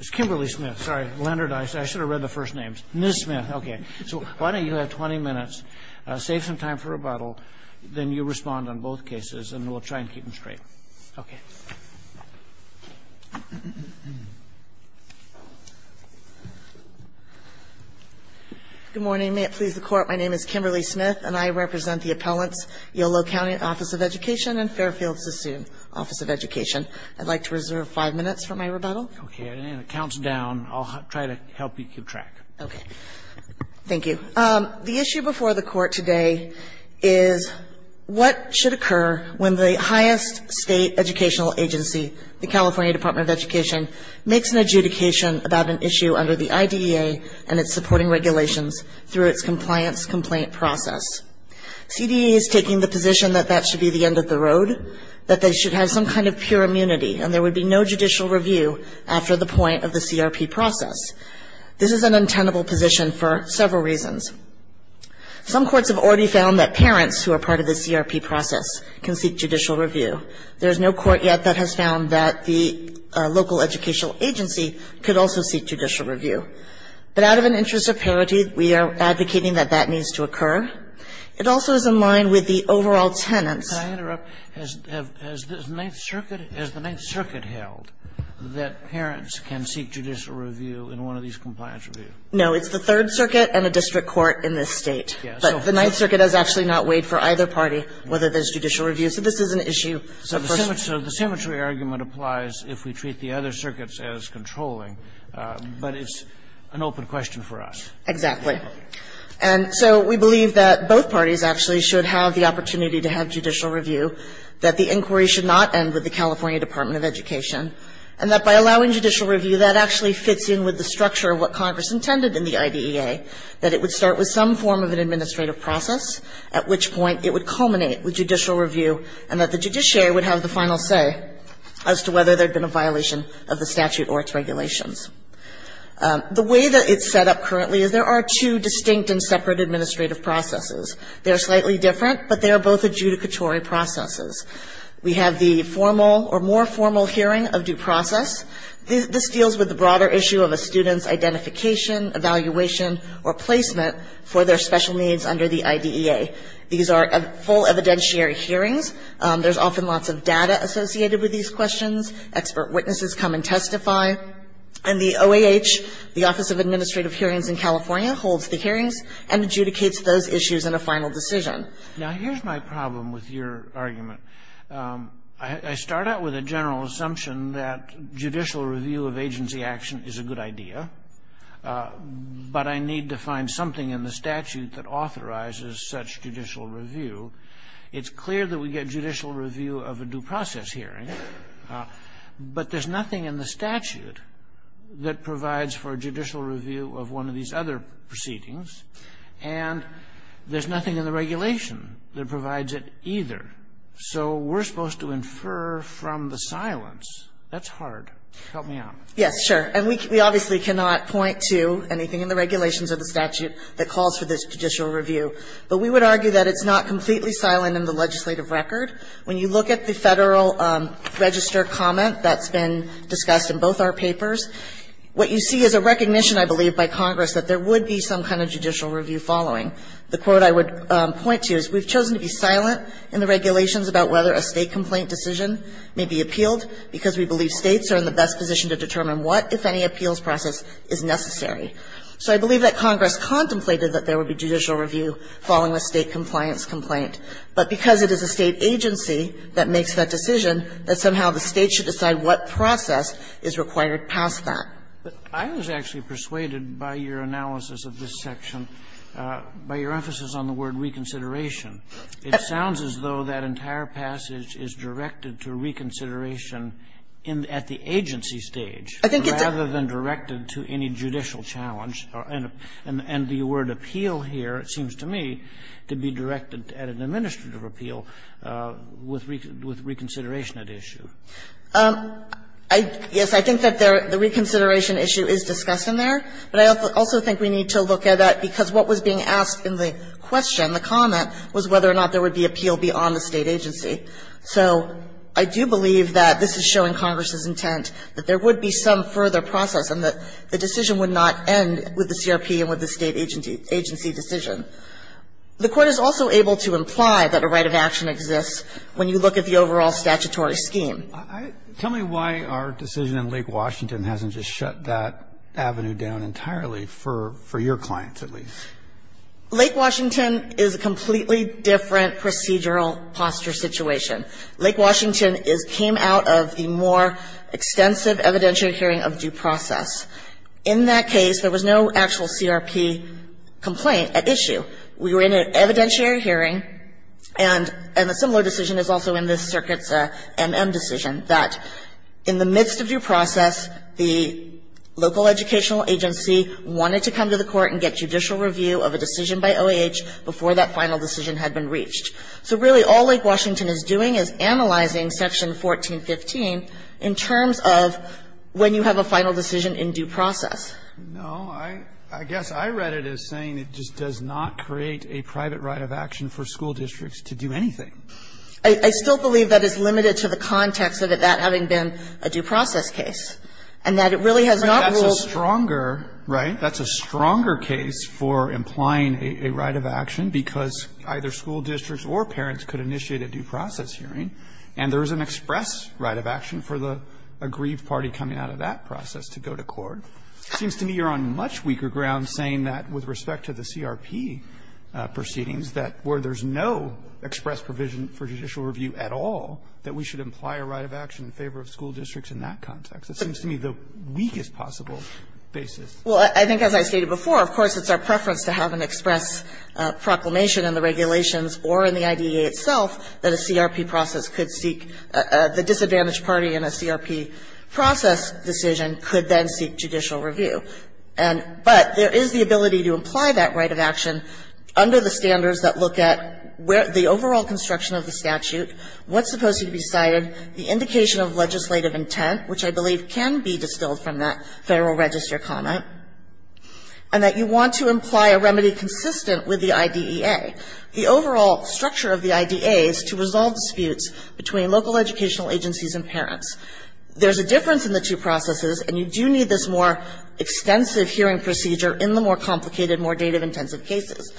It's Kimberly Smith. Sorry, Leonard, I should have read the first names. Ms. Smith. Okay. So why don't you have 20 minutes, save some time for rebuttal, then you respond on both cases, and we'll try and keep them straight. Okay. Okay. Good morning. May it please the Court, my name is Kimberly Smith, and I represent the appellant's Yolo County Office of Education and Fairfield-Sasune Office of Education. I'd like to reserve 5 minutes for my rebuttal. Okay. And it counts down. I'll try to help you keep track. Okay. Thank you. The issue before the Court today is what should occur when the highest state educational agency, the California Department of Education, makes an adjudication about an issue under the IDEA and its supporting regulations through its compliance complaint process. CDA is taking the position that that should be the end of the road, that they should have some kind of pure immunity, and there would be no judicial review after the point of the CRP process. This is an untenable position for several reasons. Some courts have already found that parents who are part of the CRP process can seek judicial review. There is no court yet that has found that the local educational agency could also seek judicial review. But out of an interest of parity, we are advocating that that needs to occur. It also is in line with the overall tenets. Can I interrupt? Has the Ninth Circuit held that parents can seek judicial review in one of these compliance reviews? No. It's the Third Circuit and a district court in this State. But the Ninth Circuit has actually not weighed for either party whether there's judicial review. So this is an issue. So the symmetry argument applies if we treat the other circuits as controlling, but it's an open question for us. Exactly. And so we believe that both parties actually should have the opportunity to have judicial review, that the inquiry should not end with the California Department of Education, and that by allowing judicial review, that actually fits in with the structure of what Congress intended in the IDEA, that it would start with some form of an administrative process, at which point it would culminate with judicial review, and that the judiciary would have the final say as to whether there had been a violation of the statute or its regulations. The way that it's set up currently is there are two distinct and separate administrative processes. They are slightly different, but they are both adjudicatory processes. We have the formal or more formal hearing of due process. This deals with the broader issue of a student's identification, evaluation, or placement for their special needs under the IDEA. These are full evidentiary hearings. There's often lots of data associated with these questions. Expert witnesses come and testify. And the OAH, the Office of Administrative Hearings in California, holds the hearings and adjudicates those issues in a final decision. Now, here's my problem with your argument. I start out with a general assumption that judicial review of agency action is a good idea, but I need to find something in the statute that authorizes such judicial review. It's clear that we get judicial review of a due process hearing, but there's nothing in the statute that provides for judicial review of one of these other proceedings, and there's nothing in the regulation that provides it either. So we're supposed to infer from the silence. That's hard. Help me out. Yes, sure. And we obviously cannot point to anything in the regulations of the statute that calls for this judicial review. But we would argue that it's not completely silent in the legislative record. When you look at the Federal Register comment that's been discussed in both our papers, what you see is a recognition, I believe, by Congress that there would be some kind of judicial review following. The quote I would point to is we've chosen to be silent in the regulations about whether a State complaint decision may be appealed because we believe States are in the best position to determine what, if any, appeals process is necessary. So I believe that Congress contemplated that there would be judicial review following a State compliance complaint. But because it is a State agency that makes that decision, that somehow the State should decide what process is required past that. But I was actually persuaded by your analysis of this section, by your emphasis on the word reconsideration. It sounds as though that entire passage is directed to reconsideration at the agency stage rather than directed to any judicial challenge. And the word appeal here, it seems to me, to be directed at an administrative appeal with reconsideration at issue. Yes, I think that the reconsideration issue is discussed in there. But I also think we need to look at that, because what was being asked in the question, in the comment, was whether or not there would be appeal beyond the State agency. So I do believe that this is showing Congress's intent that there would be some further process and that the decision would not end with the CRP and with the State agency decision. The Court is also able to imply that a right of action exists when you look at the overall statutory scheme. Tell me why our decision in Lake Washington hasn't just shut that avenue down entirely, for your clients at least. Lake Washington is a completely different procedural posture situation. Lake Washington came out of the more extensive evidentiary hearing of due process. In that case, there was no actual CRP complaint at issue. We were in an evidentiary hearing, and a similar decision is also in this circuit's MM decision, that in the midst of due process, the local educational agency wanted to come to the Court and get judicial review of a decision by OAH before that final decision had been reached. So really, all Lake Washington is doing is analyzing Section 1415 in terms of when you have a final decision in due process. No. I guess I read it as saying it just does not create a private right of action for school districts to do anything. I still believe that is limited to the context of it not having been a due process case, and that it really has not ruled that way. Right. That's a stronger case for implying a right of action, because either school districts or parents could initiate a due process hearing, and there is an express right of action for the aggrieved party coming out of that process to go to court. It seems to me you're on much weaker ground saying that with respect to the CRP proceedings, that where there's no express provision for judicial review at all, that we should imply a right of action in favor of school districts in that context. It seems to me the weakest possible basis. Well, I think as I stated before, of course, it's our preference to have an express proclamation in the regulations or in the IDEA itself that a CRP process could seek. The disadvantaged party in a CRP process decision could then seek judicial review. And but there is the ability to imply that right of action under the standards that look at where the overall construction of the statute, what's supposed to be cited, the indication of legislative intent, which I believe can be distilled from that Federal Register comment, and that you want to imply a remedy consistent with the IDEA. The overall structure of the IDEA is to resolve disputes between local educational agencies and parents. There's a difference in the two processes, and you do need this more extensive hearing procedure in the more complicated, more dative-intensive cases.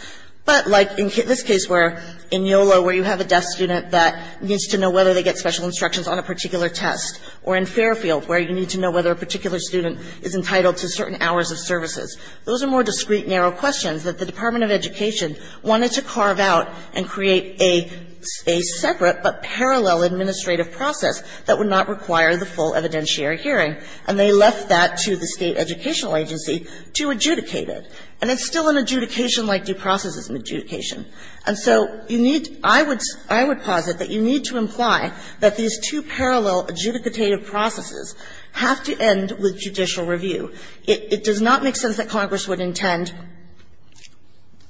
But like in this case where in YOLO where you have a deaf student that needs to know whether they get special instructions on a particular test, or in Fairfield where you need to know whether a particular student is entitled to certain hours of services, those are more discreet, narrow questions that the Department of Education wanted to carve out and create a separate but parallel administrative process that would not require the full evidentiary hearing. And they left that to the State Educational Agency to adjudicate it. And it's still an adjudication like due process is an adjudication. And so you need to – I would – I would posit that you need to imply that these two parallel adjudicative processes have to end with judicial review. It does not make sense that Congress would intend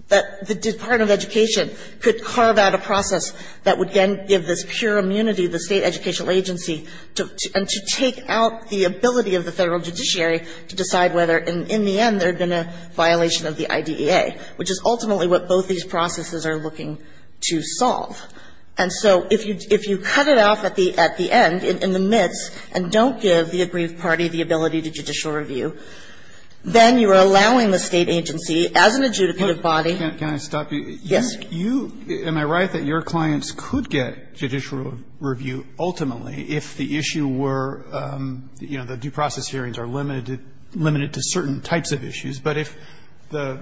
that the Department of Education could carve out a process that would then give this pure immunity to the State Educational Agency and to take out the ability of the Federal judiciary to decide whether, in the end, there had been a violation of the IDEA, which is ultimately what both these processes are looking to solve. And so if you – if you cut it off at the – at the end, in the midst, and don't give the aggrieved party the ability to judicial review, then you are allowing the State agency, as an adjudicative body – Roberts, can I stop you? Yes. You – am I right that your clients could get judicial review ultimately if the issue were, you know, the due process hearings are limited to certain types of issues, but if the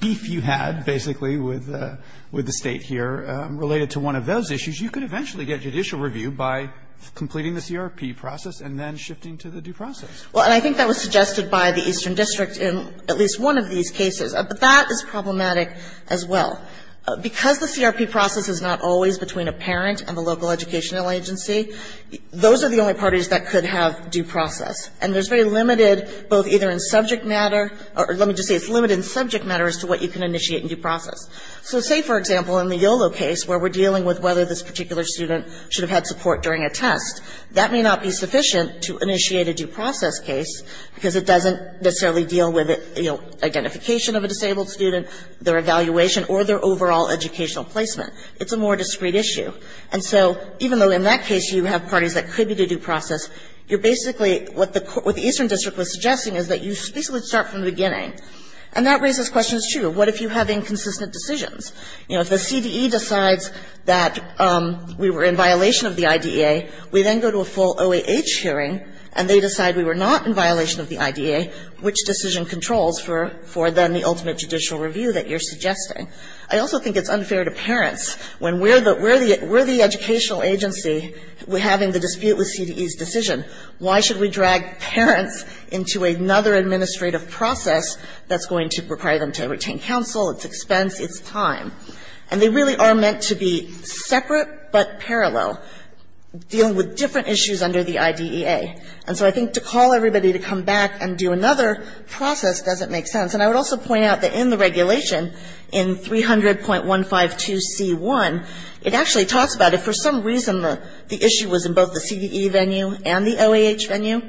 beef you had, basically, with – with the State here related to one of those issues, you could eventually get judicial review by completing the CRP process and then shifting to the due process? Well, and I think that was suggested by the Eastern District in at least one of these cases. But that is problematic as well. Because the CRP process is not always between a parent and the local educational agency, those are the only parties that could have due process. And there's very limited, both either in subject matter – or let me just say it's limited in subject matter as to what you can initiate in due process. So say, for example, in the YOLO case, where we're dealing with whether this particular student should have had support during a test, that may not be sufficient to initiate a due process case, because it doesn't necessarily deal with, you know, identification of a disabled student, their evaluation, or their overall educational placement. It's a more discrete issue. And so even though in that case you have parties that could be to due process, you're basically – what the Eastern District was suggesting is that you basically start from the beginning. And that raises questions, too. What if you have inconsistent decisions? You know, if the CDE decides that we were in violation of the IDEA, we then go to a full OAH hearing and they decide we were not in violation of the IDEA, which decision controls for then the ultimate judicial review that you're suggesting? I also think it's unfair to parents when we're the educational agency having the decision, why should we drag parents into another administrative process that's going to require them to retain counsel, it's expense, it's time. And they really are meant to be separate but parallel, dealing with different issues under the IDEA. And so I think to call everybody to come back and do another process doesn't make sense. And I would also point out that in the regulation, in 300.152c1, it actually talks about if for some reason the issue was in both the CDE venue and the OAH venue,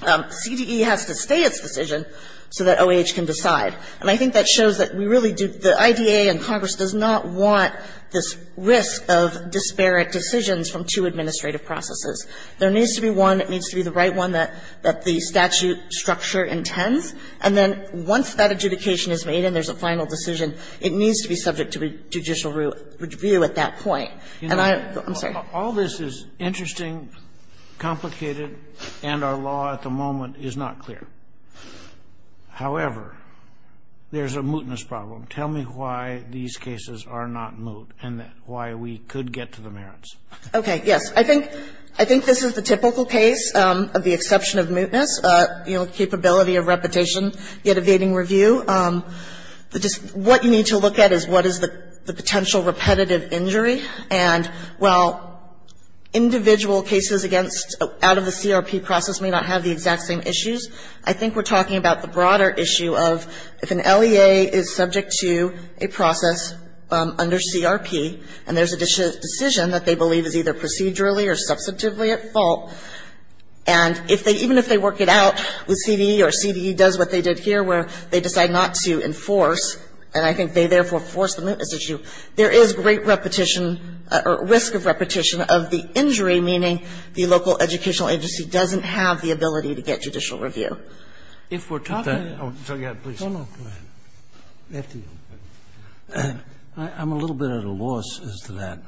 CDE has to stay its decision so that OAH can decide. And I think that shows that we really do – the IDEA and Congress does not want this risk of disparate decisions from two administrative processes. There needs to be one that needs to be the right one that the statute structure intends, and then once that adjudication is made and there's a final decision, it needs to be subject to a judicial review at that point. And I – I'm sorry. Kennedy, all this is interesting, complicated, and our law at the moment is not clear. However, there's a mootness problem. Tell me why these cases are not moot and why we could get to the merits. Okay. Yes. I think this is the typical case of the exception of mootness, you know, capability of repetition, yet evading review. The – what you need to look at is what is the potential repetitive injury. And while individual cases against – out of the CRP process may not have the exact same issues, I think we're talking about the broader issue of if an LEA is subject to a process under CRP and there's a decision that they believe is either procedurally or substantively at fault, and if they – even if they work it out with CDE or CDE does what they did here where they decide not to enforce, and I think they, therefore, force the mootness issue, there is great repetition or risk of repetition of the injury, meaning the local educational agency doesn't have the ability to get judicial review. If we're talking about – oh, yeah, please. No, no, go ahead. I'm a little bit at a loss as to that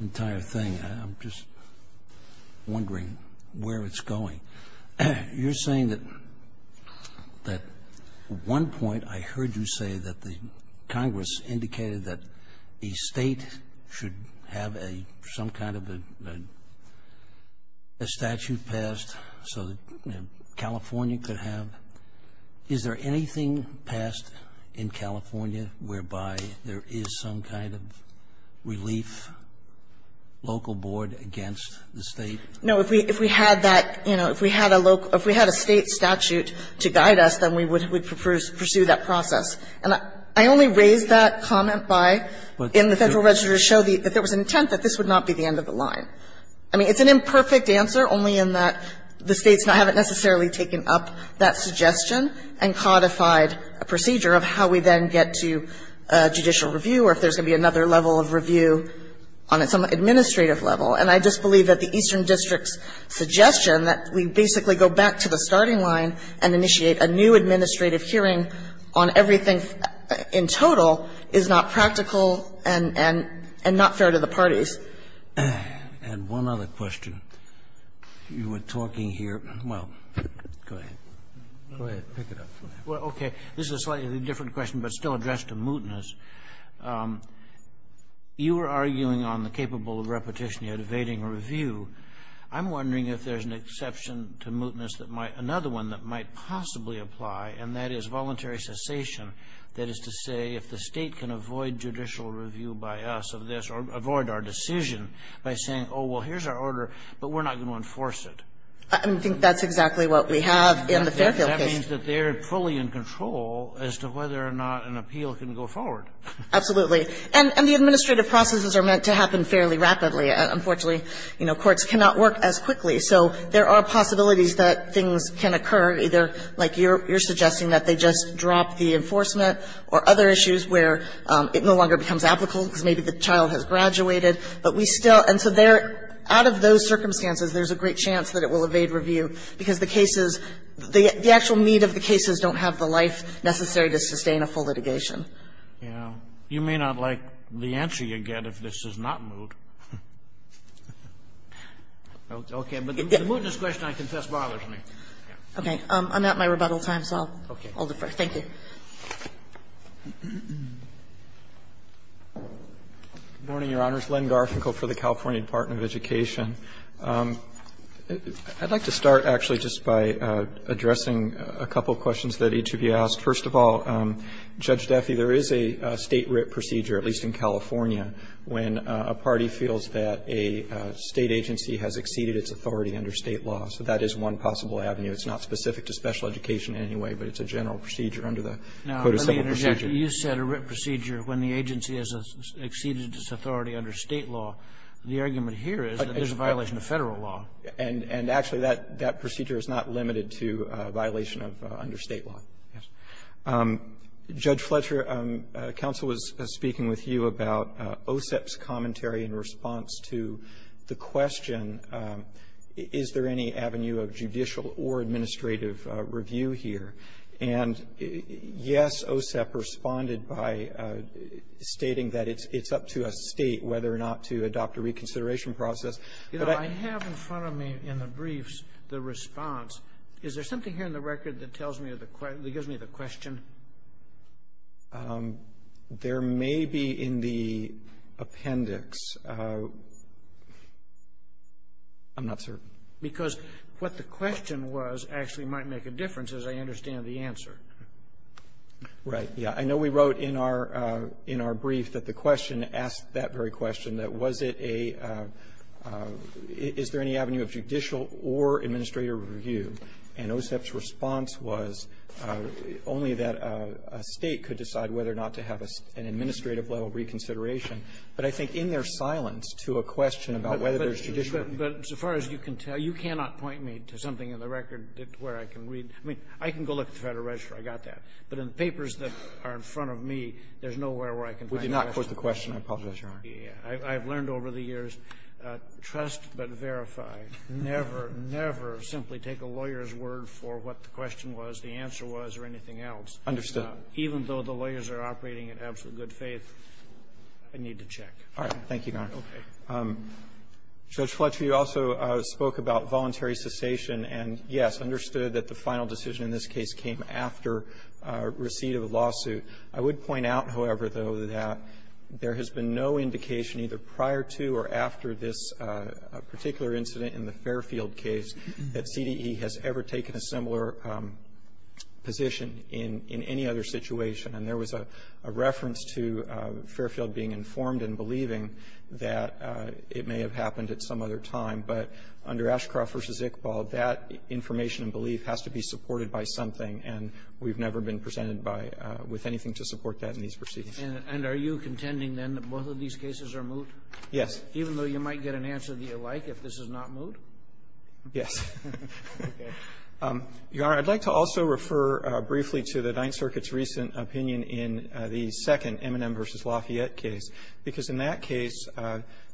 entire thing. I'm just wondering where it's going. You're saying that at one point I heard you say that the Congress indicated that a State should have a – some kind of a statute passed so that California could have – is there anything passed in California whereby there is some kind of relief local board against the State? No, if we – if we had that – you know, if we had a local – if we had a State statute to guide us, then we would pursue that process. And I only raised that comment by – in the Federal Register to show that there was an intent that this would not be the end of the line. I mean, it's an imperfect answer, only in that the States haven't necessarily taken up that suggestion and codified a procedure of how we then get to judicial review or if there's going to be another level of review on some administrative level. And I just believe that the Eastern District's suggestion that we basically go back to the starting line and initiate a new administrative hearing on everything in total is not practical and not fair to the parties. And one other question. You were talking here – well, go ahead. Go ahead. Pick it up. Well, okay. This is a slightly different question, but still addressed to Mootness. You were arguing on the capable of repetition, evading review. I'm wondering if there's an exception to Mootness that might – another one that might possibly apply, and that is voluntary cessation. That is to say, if the State can avoid judicial review by us of this or avoid our decision by saying, oh, well, here's our order, but we're not going to enforce it. I think that's exactly what we have in the Fairfield case. That means that they're fully in control as to whether or not an appeal can go forward. Absolutely. And the administrative processes are meant to happen fairly rapidly. Unfortunately, you know, courts cannot work as quickly. So there are possibilities that things can occur, either like you're suggesting that they just drop the enforcement or other issues where it no longer becomes applicable because maybe the child has graduated. And so out of those circumstances, there's a great chance that it will evade review because the cases – the actual need of the cases don't have the life necessary to sustain a full litigation. Yeah. You may not like the answer you get if this is not moot. Okay. But the mootness question, I confess, bothers me. Okay. I'm at my rebuttal time, so I'll defer. Thank you. Good morning, Your Honors. Len Garfinkel for the California Department of Education. I'd like to start, actually, just by addressing a couple of questions that each of you asked. First of all, Judge Duffy, there is a State writ procedure, at least in California, when a party feels that a State agency has exceeded its authority under State law. So that is one possible avenue. It's not specific to special education in any way, but it's a general procedure under the, quote, a simple procedure. Now, let me interject. You said a writ procedure when the agency has exceeded its authority under State law. The argument here is that there's a violation of Federal law. And actually, that procedure is not limited to a violation of under State law. Judge Fletcher, counsel was speaking with you about OSEP's commentary in response to the question, is there any avenue of judicial or administrative review here? And, yes, OSEP responded by stating that it's up to a State whether or not to adopt a reconsideration process. But I have in front of me in the briefs the response. Is there something here in the record that tells me or that gives me the question? There may be in the appendix. I'm not certain. Because what the question was actually might make a difference, as I understand the answer. Right. Yeah. I know we wrote in our brief that the question asked that very question, that was it a – is there any avenue of judicial or administrative review? And OSEP's response was only that a State could decide whether or not to have an administrative level reconsideration. But I think in their silence to a question about whether there's judicial review But as far as you can tell, you cannot point me to something in the record where I can read. I mean, I can go look at the Federal Register. I got that. But in the papers that are in front of me, there's nowhere where I can find the question. We did not quote the question. I apologize, Your Honor. I've learned over the years, trust but verify. Never, never simply take a lawyer's word for what the question was, the answer was, or anything else. Understood. Even though the lawyers are operating in absolute good faith, I need to check. All right. Thank you, Your Honor. Okay. Judge Fletcher, you also spoke about voluntary cessation. And, yes, understood that the final decision in this case came after receipt of a lawsuit. I would point out, however, though, that there has been no indication either prior to or after this particular incident in the Fairfield case that CDE has ever taken a similar position in any other situation. And there was a reference to Fairfield being informed and believing that it may have happened at some other time. But under Ashcroft v. Iqbal, that information and belief has to be supported by something. And we've never been presented by, with anything to support that in these proceedings. And are you contending, then, that both of these cases are moot? Yes. Even though you might get an answer that you like if this is not moot? Yes. Okay. Your Honor, I'd like to also refer briefly to the Ninth Circuit's recent opinion in the second M&M v. Lafayette case. Because in that case,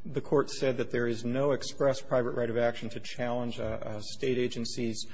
the court said that there is no express private right of action to challenge a State agency's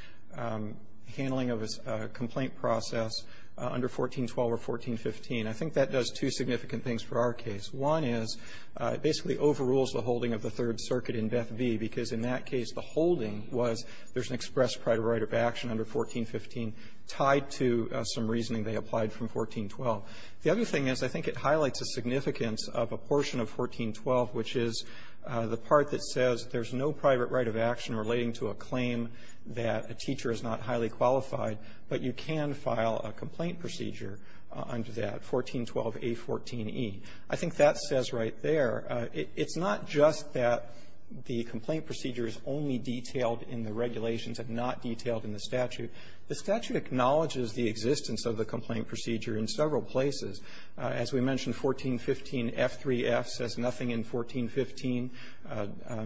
handling of a complaint process under 1412 or 1415. I think that does two significant things for our case. One is it basically overrules the holding of the Third Circuit in Beth v. Because in that case, the holding was there's an express private right of action under 1415 tied to some reasoning they applied from 1412. The other thing is I think it highlights a significance of a portion of 1412, which is the part that says there's no private right of action relating to a claim that a teacher is not highly qualified, but you can file a complaint procedure under that, 1412a14e. I think that says right there, it's not just that the complaint procedure is only detailed in the regulations and not detailed in the statute. The statute acknowledges the existence of the complaint procedure in several places. As we mentioned, 1415F3F says nothing in 1415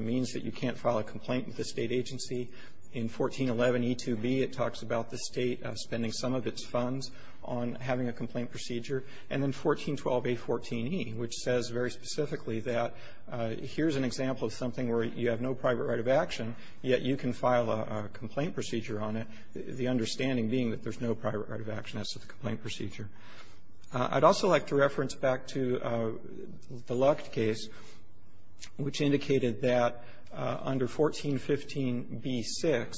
means that you can't file a complaint with a State agency. In 1411e2b, it talks about the State spending some of its funds on having a complaint procedure. And then 1412a14e, which says very specifically that here's an example of something where you have no private right of action, yet you can file a complaint procedure on it, the understanding being that there's no private right of action as to the complaint procedure. I'd also like to reference back to the Lucht case, which indicated that under 1415b6,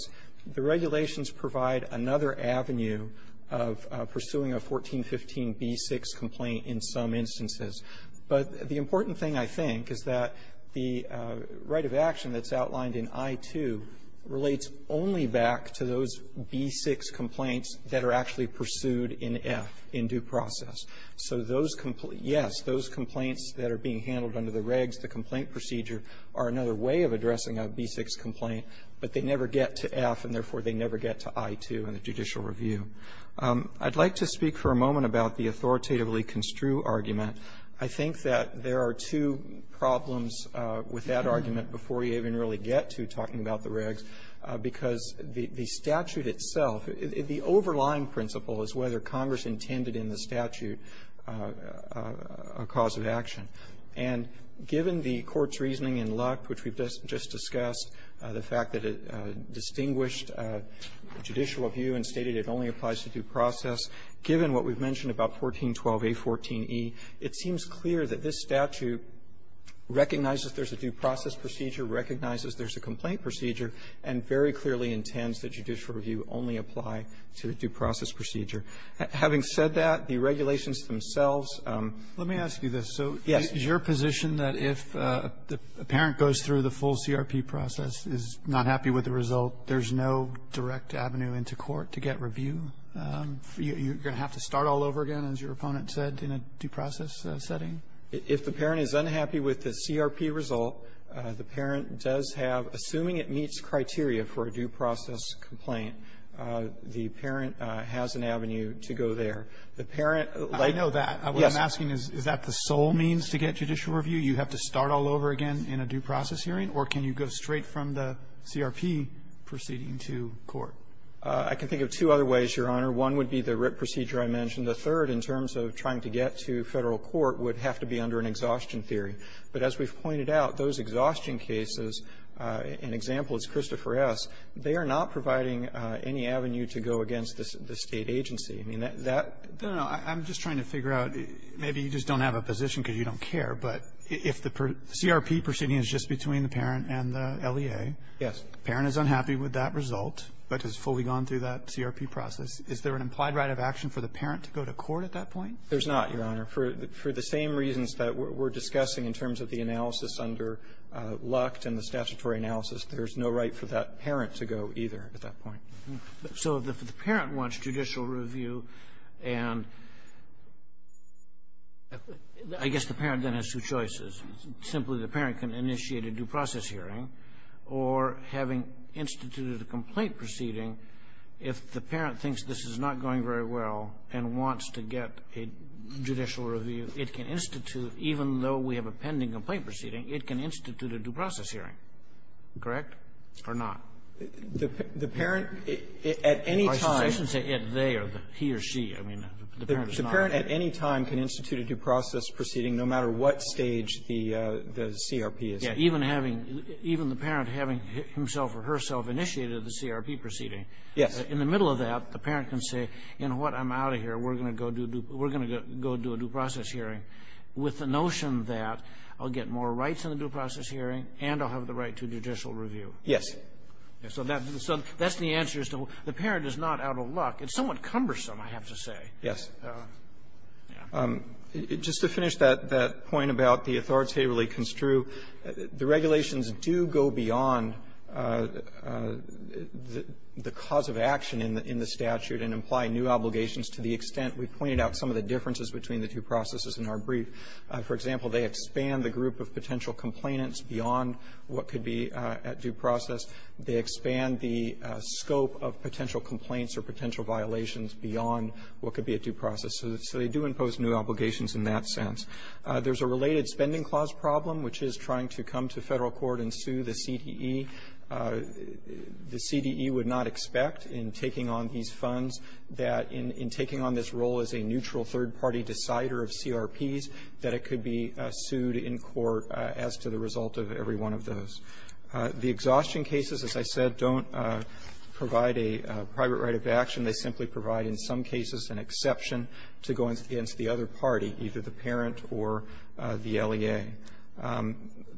the regulations provide another avenue of pursuing a 1415b6 complaint in some instances. But the important thing, I think, is that the right of action that's outlined in I-2 relates only back to those b6 complaints that are actually pursued in F in due process. So those compl yes, those complaints that are being handled under the regs, the complaint procedure, are another way of addressing a b6 complaint, but they never get to F, and therefore, they never get to I-2 in the judicial review. I'd like to speak for a moment about the authoritatively construe argument. I think that there are two problems with that argument before you even really get to talking about the regs, because the statute itself, the overlying principle is whether Congress intended in the statute a cause of action. And given the Court's reasoning in Lucht, which we've just discussed, the fact that it distinguished judicial review and stated it only applies to due process, given what we've mentioned about 1412a14e, it seems clear that this statute recognizes there's a due process procedure, recognizes there's a complaint procedure, and very clearly intends that judicial review only apply to the due process procedure. Having said that, the regulations themselves ---- Roberts, let me ask you this. So is your position that if a parent goes through the full CRP process, is not happy with the result, there's no direct avenue into court to get review? You're going to have to start all over again, as your opponent said, in a due process setting? If the parent is unhappy with the CRP result, the parent does have, assuming it meets criteria for a due process complaint, the parent has an avenue to go there. The parent ---- I know that. Yes. What I'm asking is, is that the sole means to get judicial review? You have to start all over again in a due process hearing? Or can you go straight from the CRP proceeding to court? I can think of two other ways, Your Honor. One would be the RIT procedure I mentioned. The third, in terms of trying to get to Federal court, would have to be under an exhaustion theory. But as we've pointed out, those exhaustion cases, an example is Christopher S., they are not providing any avenue to go against the State agency. I mean, that ---- No, no. I'm just trying to figure out, maybe you just don't have a position because you don't care, but if the CRP proceeding is just between the parent and the LEA, the parent is unhappy with that result. But has fully gone through that CRP process. Is there an implied right of action for the parent to go to court at that point? There's not, Your Honor. For the same reasons that we're discussing in terms of the analysis under Luct and the statutory analysis, there's no right for that parent to go either at that point. So if the parent wants judicial review and ---- I guess the parent then has two choices. Simply, the parent can initiate a due process hearing, or having instituted a complaint proceeding, if the parent thinks this is not going very well and wants to get a judicial review, it can institute, even though we have a pending complaint proceeding, it can institute a due process hearing, correct, or not? The parent, at any time ---- I shouldn't say it, they, or he or she. I mean, the parent is not ---- The parent, at any time, can institute a due process proceeding, no matter what stage the CRP is at. Even having, even the parent having himself or herself initiated the CRP proceeding. Yes. In the middle of that, the parent can say, you know what, I'm out of here. We're going to go do a due process hearing, with the notion that I'll get more rights in the due process hearing, and I'll have the right to judicial review. Yes. So that's the answer as to the parent is not out of luck. It's somewhat cumbersome, I have to say. Yes. Just to finish that point about the authoritatively construe, the regulations do go beyond the cause of action in the statute and imply new obligations to the extent we pointed out some of the differences between the two processes in our brief. For example, they expand the group of potential complainants beyond what could be at due process. They expand the scope of potential complaints or potential violations beyond what So they do impose new obligations in that sense. There's a related Spending Clause problem, which is trying to come to Federal Court and sue the CDE. The CDE would not expect in taking on these funds that in taking on this role as a neutral third-party decider of CRPs that it could be sued in court as to the result of every one of those. The exhaustion cases, as I said, don't provide a private right of action. They simply provide, in some cases, an exception to going against the other party, either the parent or the LEA.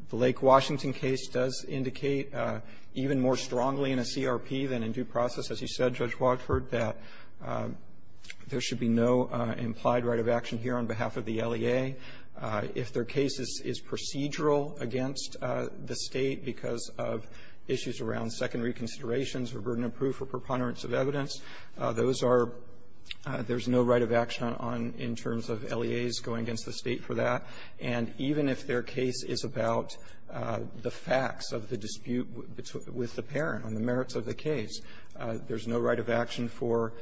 The Lake Washington case does indicate even more strongly in a CRP than in due process, as you said, Judge Watford, that there should be no implied right of action here on behalf of the LEA. If their case is procedural against the state because of issues around secondary considerations or burden of proof or preponderance of evidence, those are — there's no right of action on — in terms of LEAs going against the state for that. And even if their case is about the facts of the dispute with the parent on the merits of the case, there's no right of action for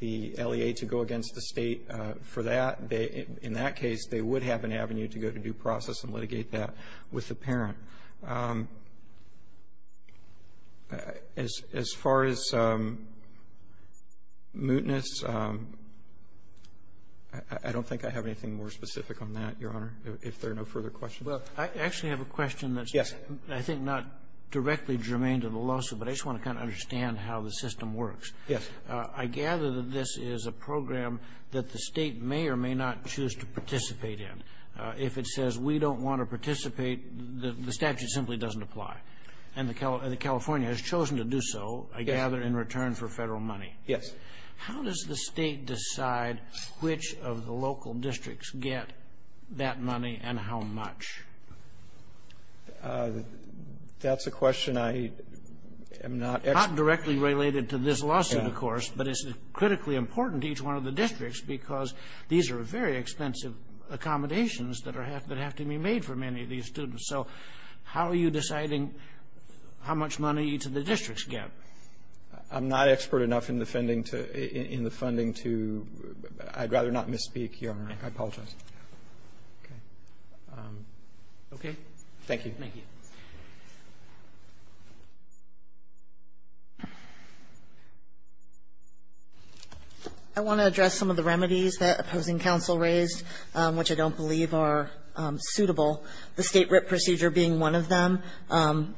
the LEA to go against the state for that. They — in that case, they would have an avenue to go to due process and litigate that with the parent. As far as mootness, I don't think I have anything more specific on that, Your Honor, if there are no further questions. Roberts. I actually have a question that's — Yes. I think not directly germane to the lawsuit, but I just want to kind of understand how the system works. Yes. I gather that this is a program that the State may or may not choose to participate in. If it says we don't want to participate, the statute simply doesn't apply. And the California has chosen to do so, I gather, in return for Federal money. Yes. How does the State decide which of the local districts get that money and how much? That's a question I am not — Not directly related to this lawsuit, of course, but it's critically important to each one of the districts because these are very expensive accommodations that are — that have to be made for many of these students. So how are you deciding how much money each of the districts get? I'm not expert enough in the funding to — in the funding to — I'd rather not misspeak, Your Honor. I apologize. Okay. Thank you. Thank you. I want to address some of the remedies that opposing counsel raised, which I don't believe are suitable. The State writ procedure being one of them,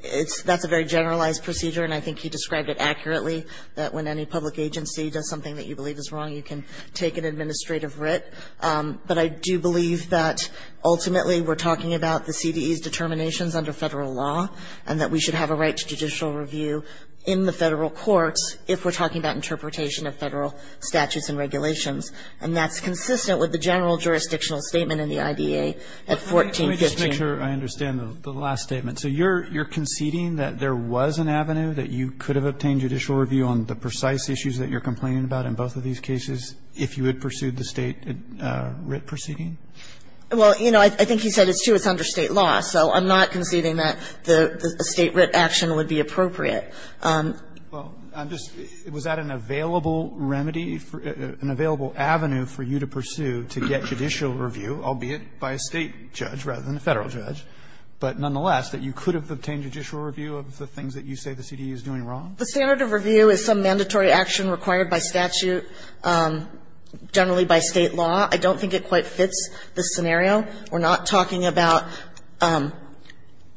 it's — that's a very generalized procedure, and I think he described it accurately, that when any public agency does something that you believe is wrong, you can take an administrative writ. But I do believe that ultimately we're talking about the CDE's determinations under Federal law, and that we should have a right to judicial review in the Federal courts if we're talking about interpretation of Federal statutes and regulations. And that's consistent with the general jurisdictional statement in the IDA at 1415. Let me just make sure I understand the last statement. So you're conceding that there was an avenue that you could have obtained judicial review on the precise issues that you're complaining about in both of these cases if you had pursued the State writ proceeding? Well, you know, I think he said it's too — it's under State law. So I'm not conceding that the State writ action would be appropriate. Well, I'm just — was that an available remedy for — an available avenue for you to pursue to get judicial review, albeit by a State judge rather than a Federal judge, but nonetheless, that you could have obtained judicial review of the things that you say the CDE is doing wrong? The standard of review is some mandatory action required by statute, generally by State law. I don't think it quite fits the scenario. We're not talking about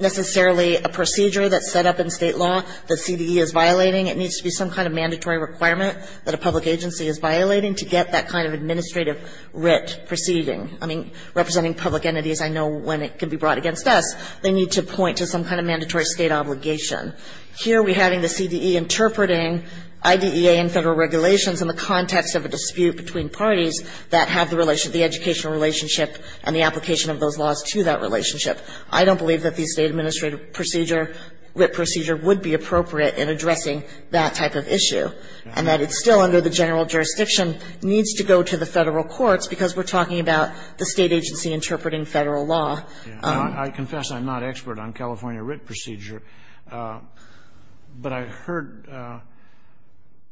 necessarily a procedure that's set up in State law that CDE is violating. It needs to be some kind of mandatory requirement that a public agency is violating to get that kind of administrative writ proceeding. I mean, representing public entities, I know when it can be brought against us, they need to point to some kind of mandatory State obligation. Here we're having the CDE interpreting IDEA and Federal regulations in the context of a dispute between parties that have the relation — the educational relationship and the application of those laws to that relationship. I don't believe that the State administrative procedure, writ procedure, would be appropriate in addressing that type of issue, and that it still, under the general jurisdiction, needs to go to the Federal courts because we're talking about the State agency interpreting Federal law. I confess I'm not an expert on California writ procedure, but I heard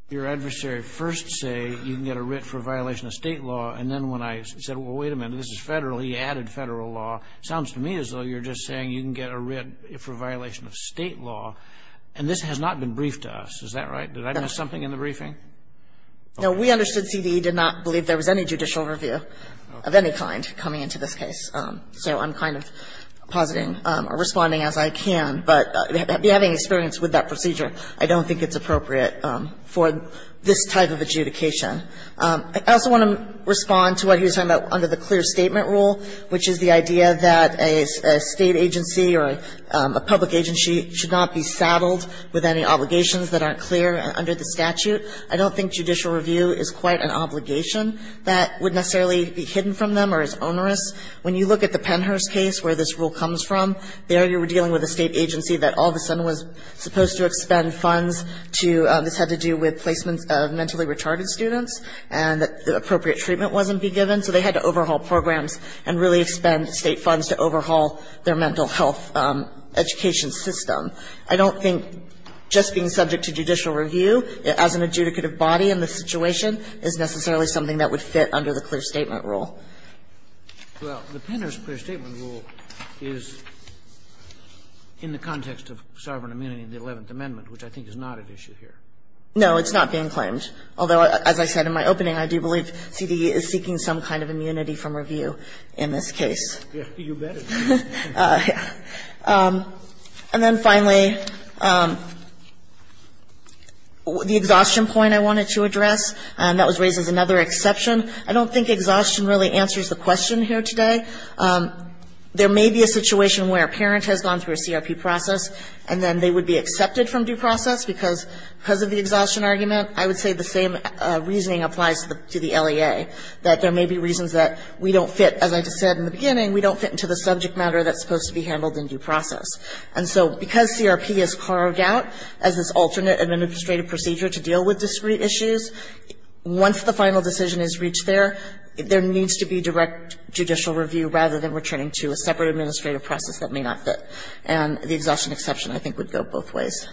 your adversary first say you can get a writ for a violation of State law, and then when I said, well, wait a minute, this is Federal, he added Federal law, it sounds to me as though you're just saying you can get a writ for a violation of State law, and this has not been briefed to us. Is that right? Did I miss something in the briefing? No. We understood CDE did not believe there was any judicial review of any kind coming into this case. So I'm kind of positing or responding as I can, but having experience with that procedure, I don't think it's appropriate for this type of adjudication. I also want to respond to what he was talking about under the clear statement rule, which is the idea that a State agency or a public agency should not be saddled with any obligations that aren't clear under the statute. I don't think judicial review is quite an obligation that would necessarily be hidden from them or is onerous. When you look at the Pennhurst case where this rule comes from, there you were dealing with a State agency that all of a sudden was supposed to expend funds to this had to do with placements of mentally retarded students and that appropriate treatment wasn't to be given, so they had to overhaul programs and really expend State funds to overhaul their mental health education system. I don't think just being subject to judicial review as an adjudicative body in this situation is necessarily something that would fit under the clear statement rule. Well, the Pennhurst clear statement rule is in the context of sovereign immunity in the Eleventh Amendment, which I think is not at issue here. No, it's not being claimed. Although, as I said in my opening, I do believe CDE is seeking some kind of immunity from review in this case. You bet it is. And then finally, the exhaustion point I wanted to address, and that was raised as another exception. I don't think exhaustion really answers the question here today. There may be a situation where a parent has gone through a CRP process and then they would be accepted from due process because of the exhaustion argument, I would say the same reasoning applies to the LEA, that there may be reasons that we don't fit, as I just said in the beginning, we don't fit into the subject matter that's supposed to be handled in due process. And so because CRP is carved out as this alternate administrative procedure to deal with discrete issues, once the final decision is reached there, there needs to be direct judicial review rather than returning to a separate administrative process that may not fit. And the exhaustion exception, I think, would go both ways.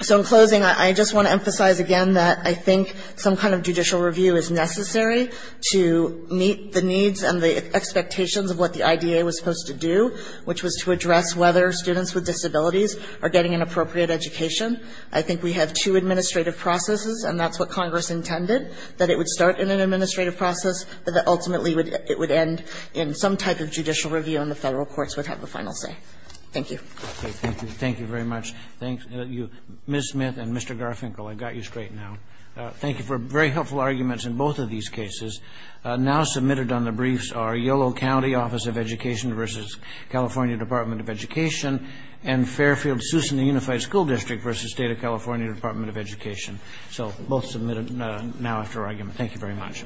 So in closing, I just want to emphasize again that I think some kind of judicial review is necessary to meet the needs and the expectations of what the IDA was supposed to do, which was to address whether students with disabilities are getting an appropriate education. I think we have two administrative processes, and that's what Congress intended, that it would start in an administrative process, but that ultimately it would end in some type of judicial review, and the Federal courts would have the final say. Thank you. Thank you. Thank you very much. Ms. Smith and Mr. Garfinkel, I got you straight now. Thank you for very helpful arguments in both of these cases. Now submitted on the briefs are Yolo County Office of Education v. California Department of Education and Fairfield-Susan Unified School District v. State of California Department of Education. So both submitted now after argument. Thank you very much.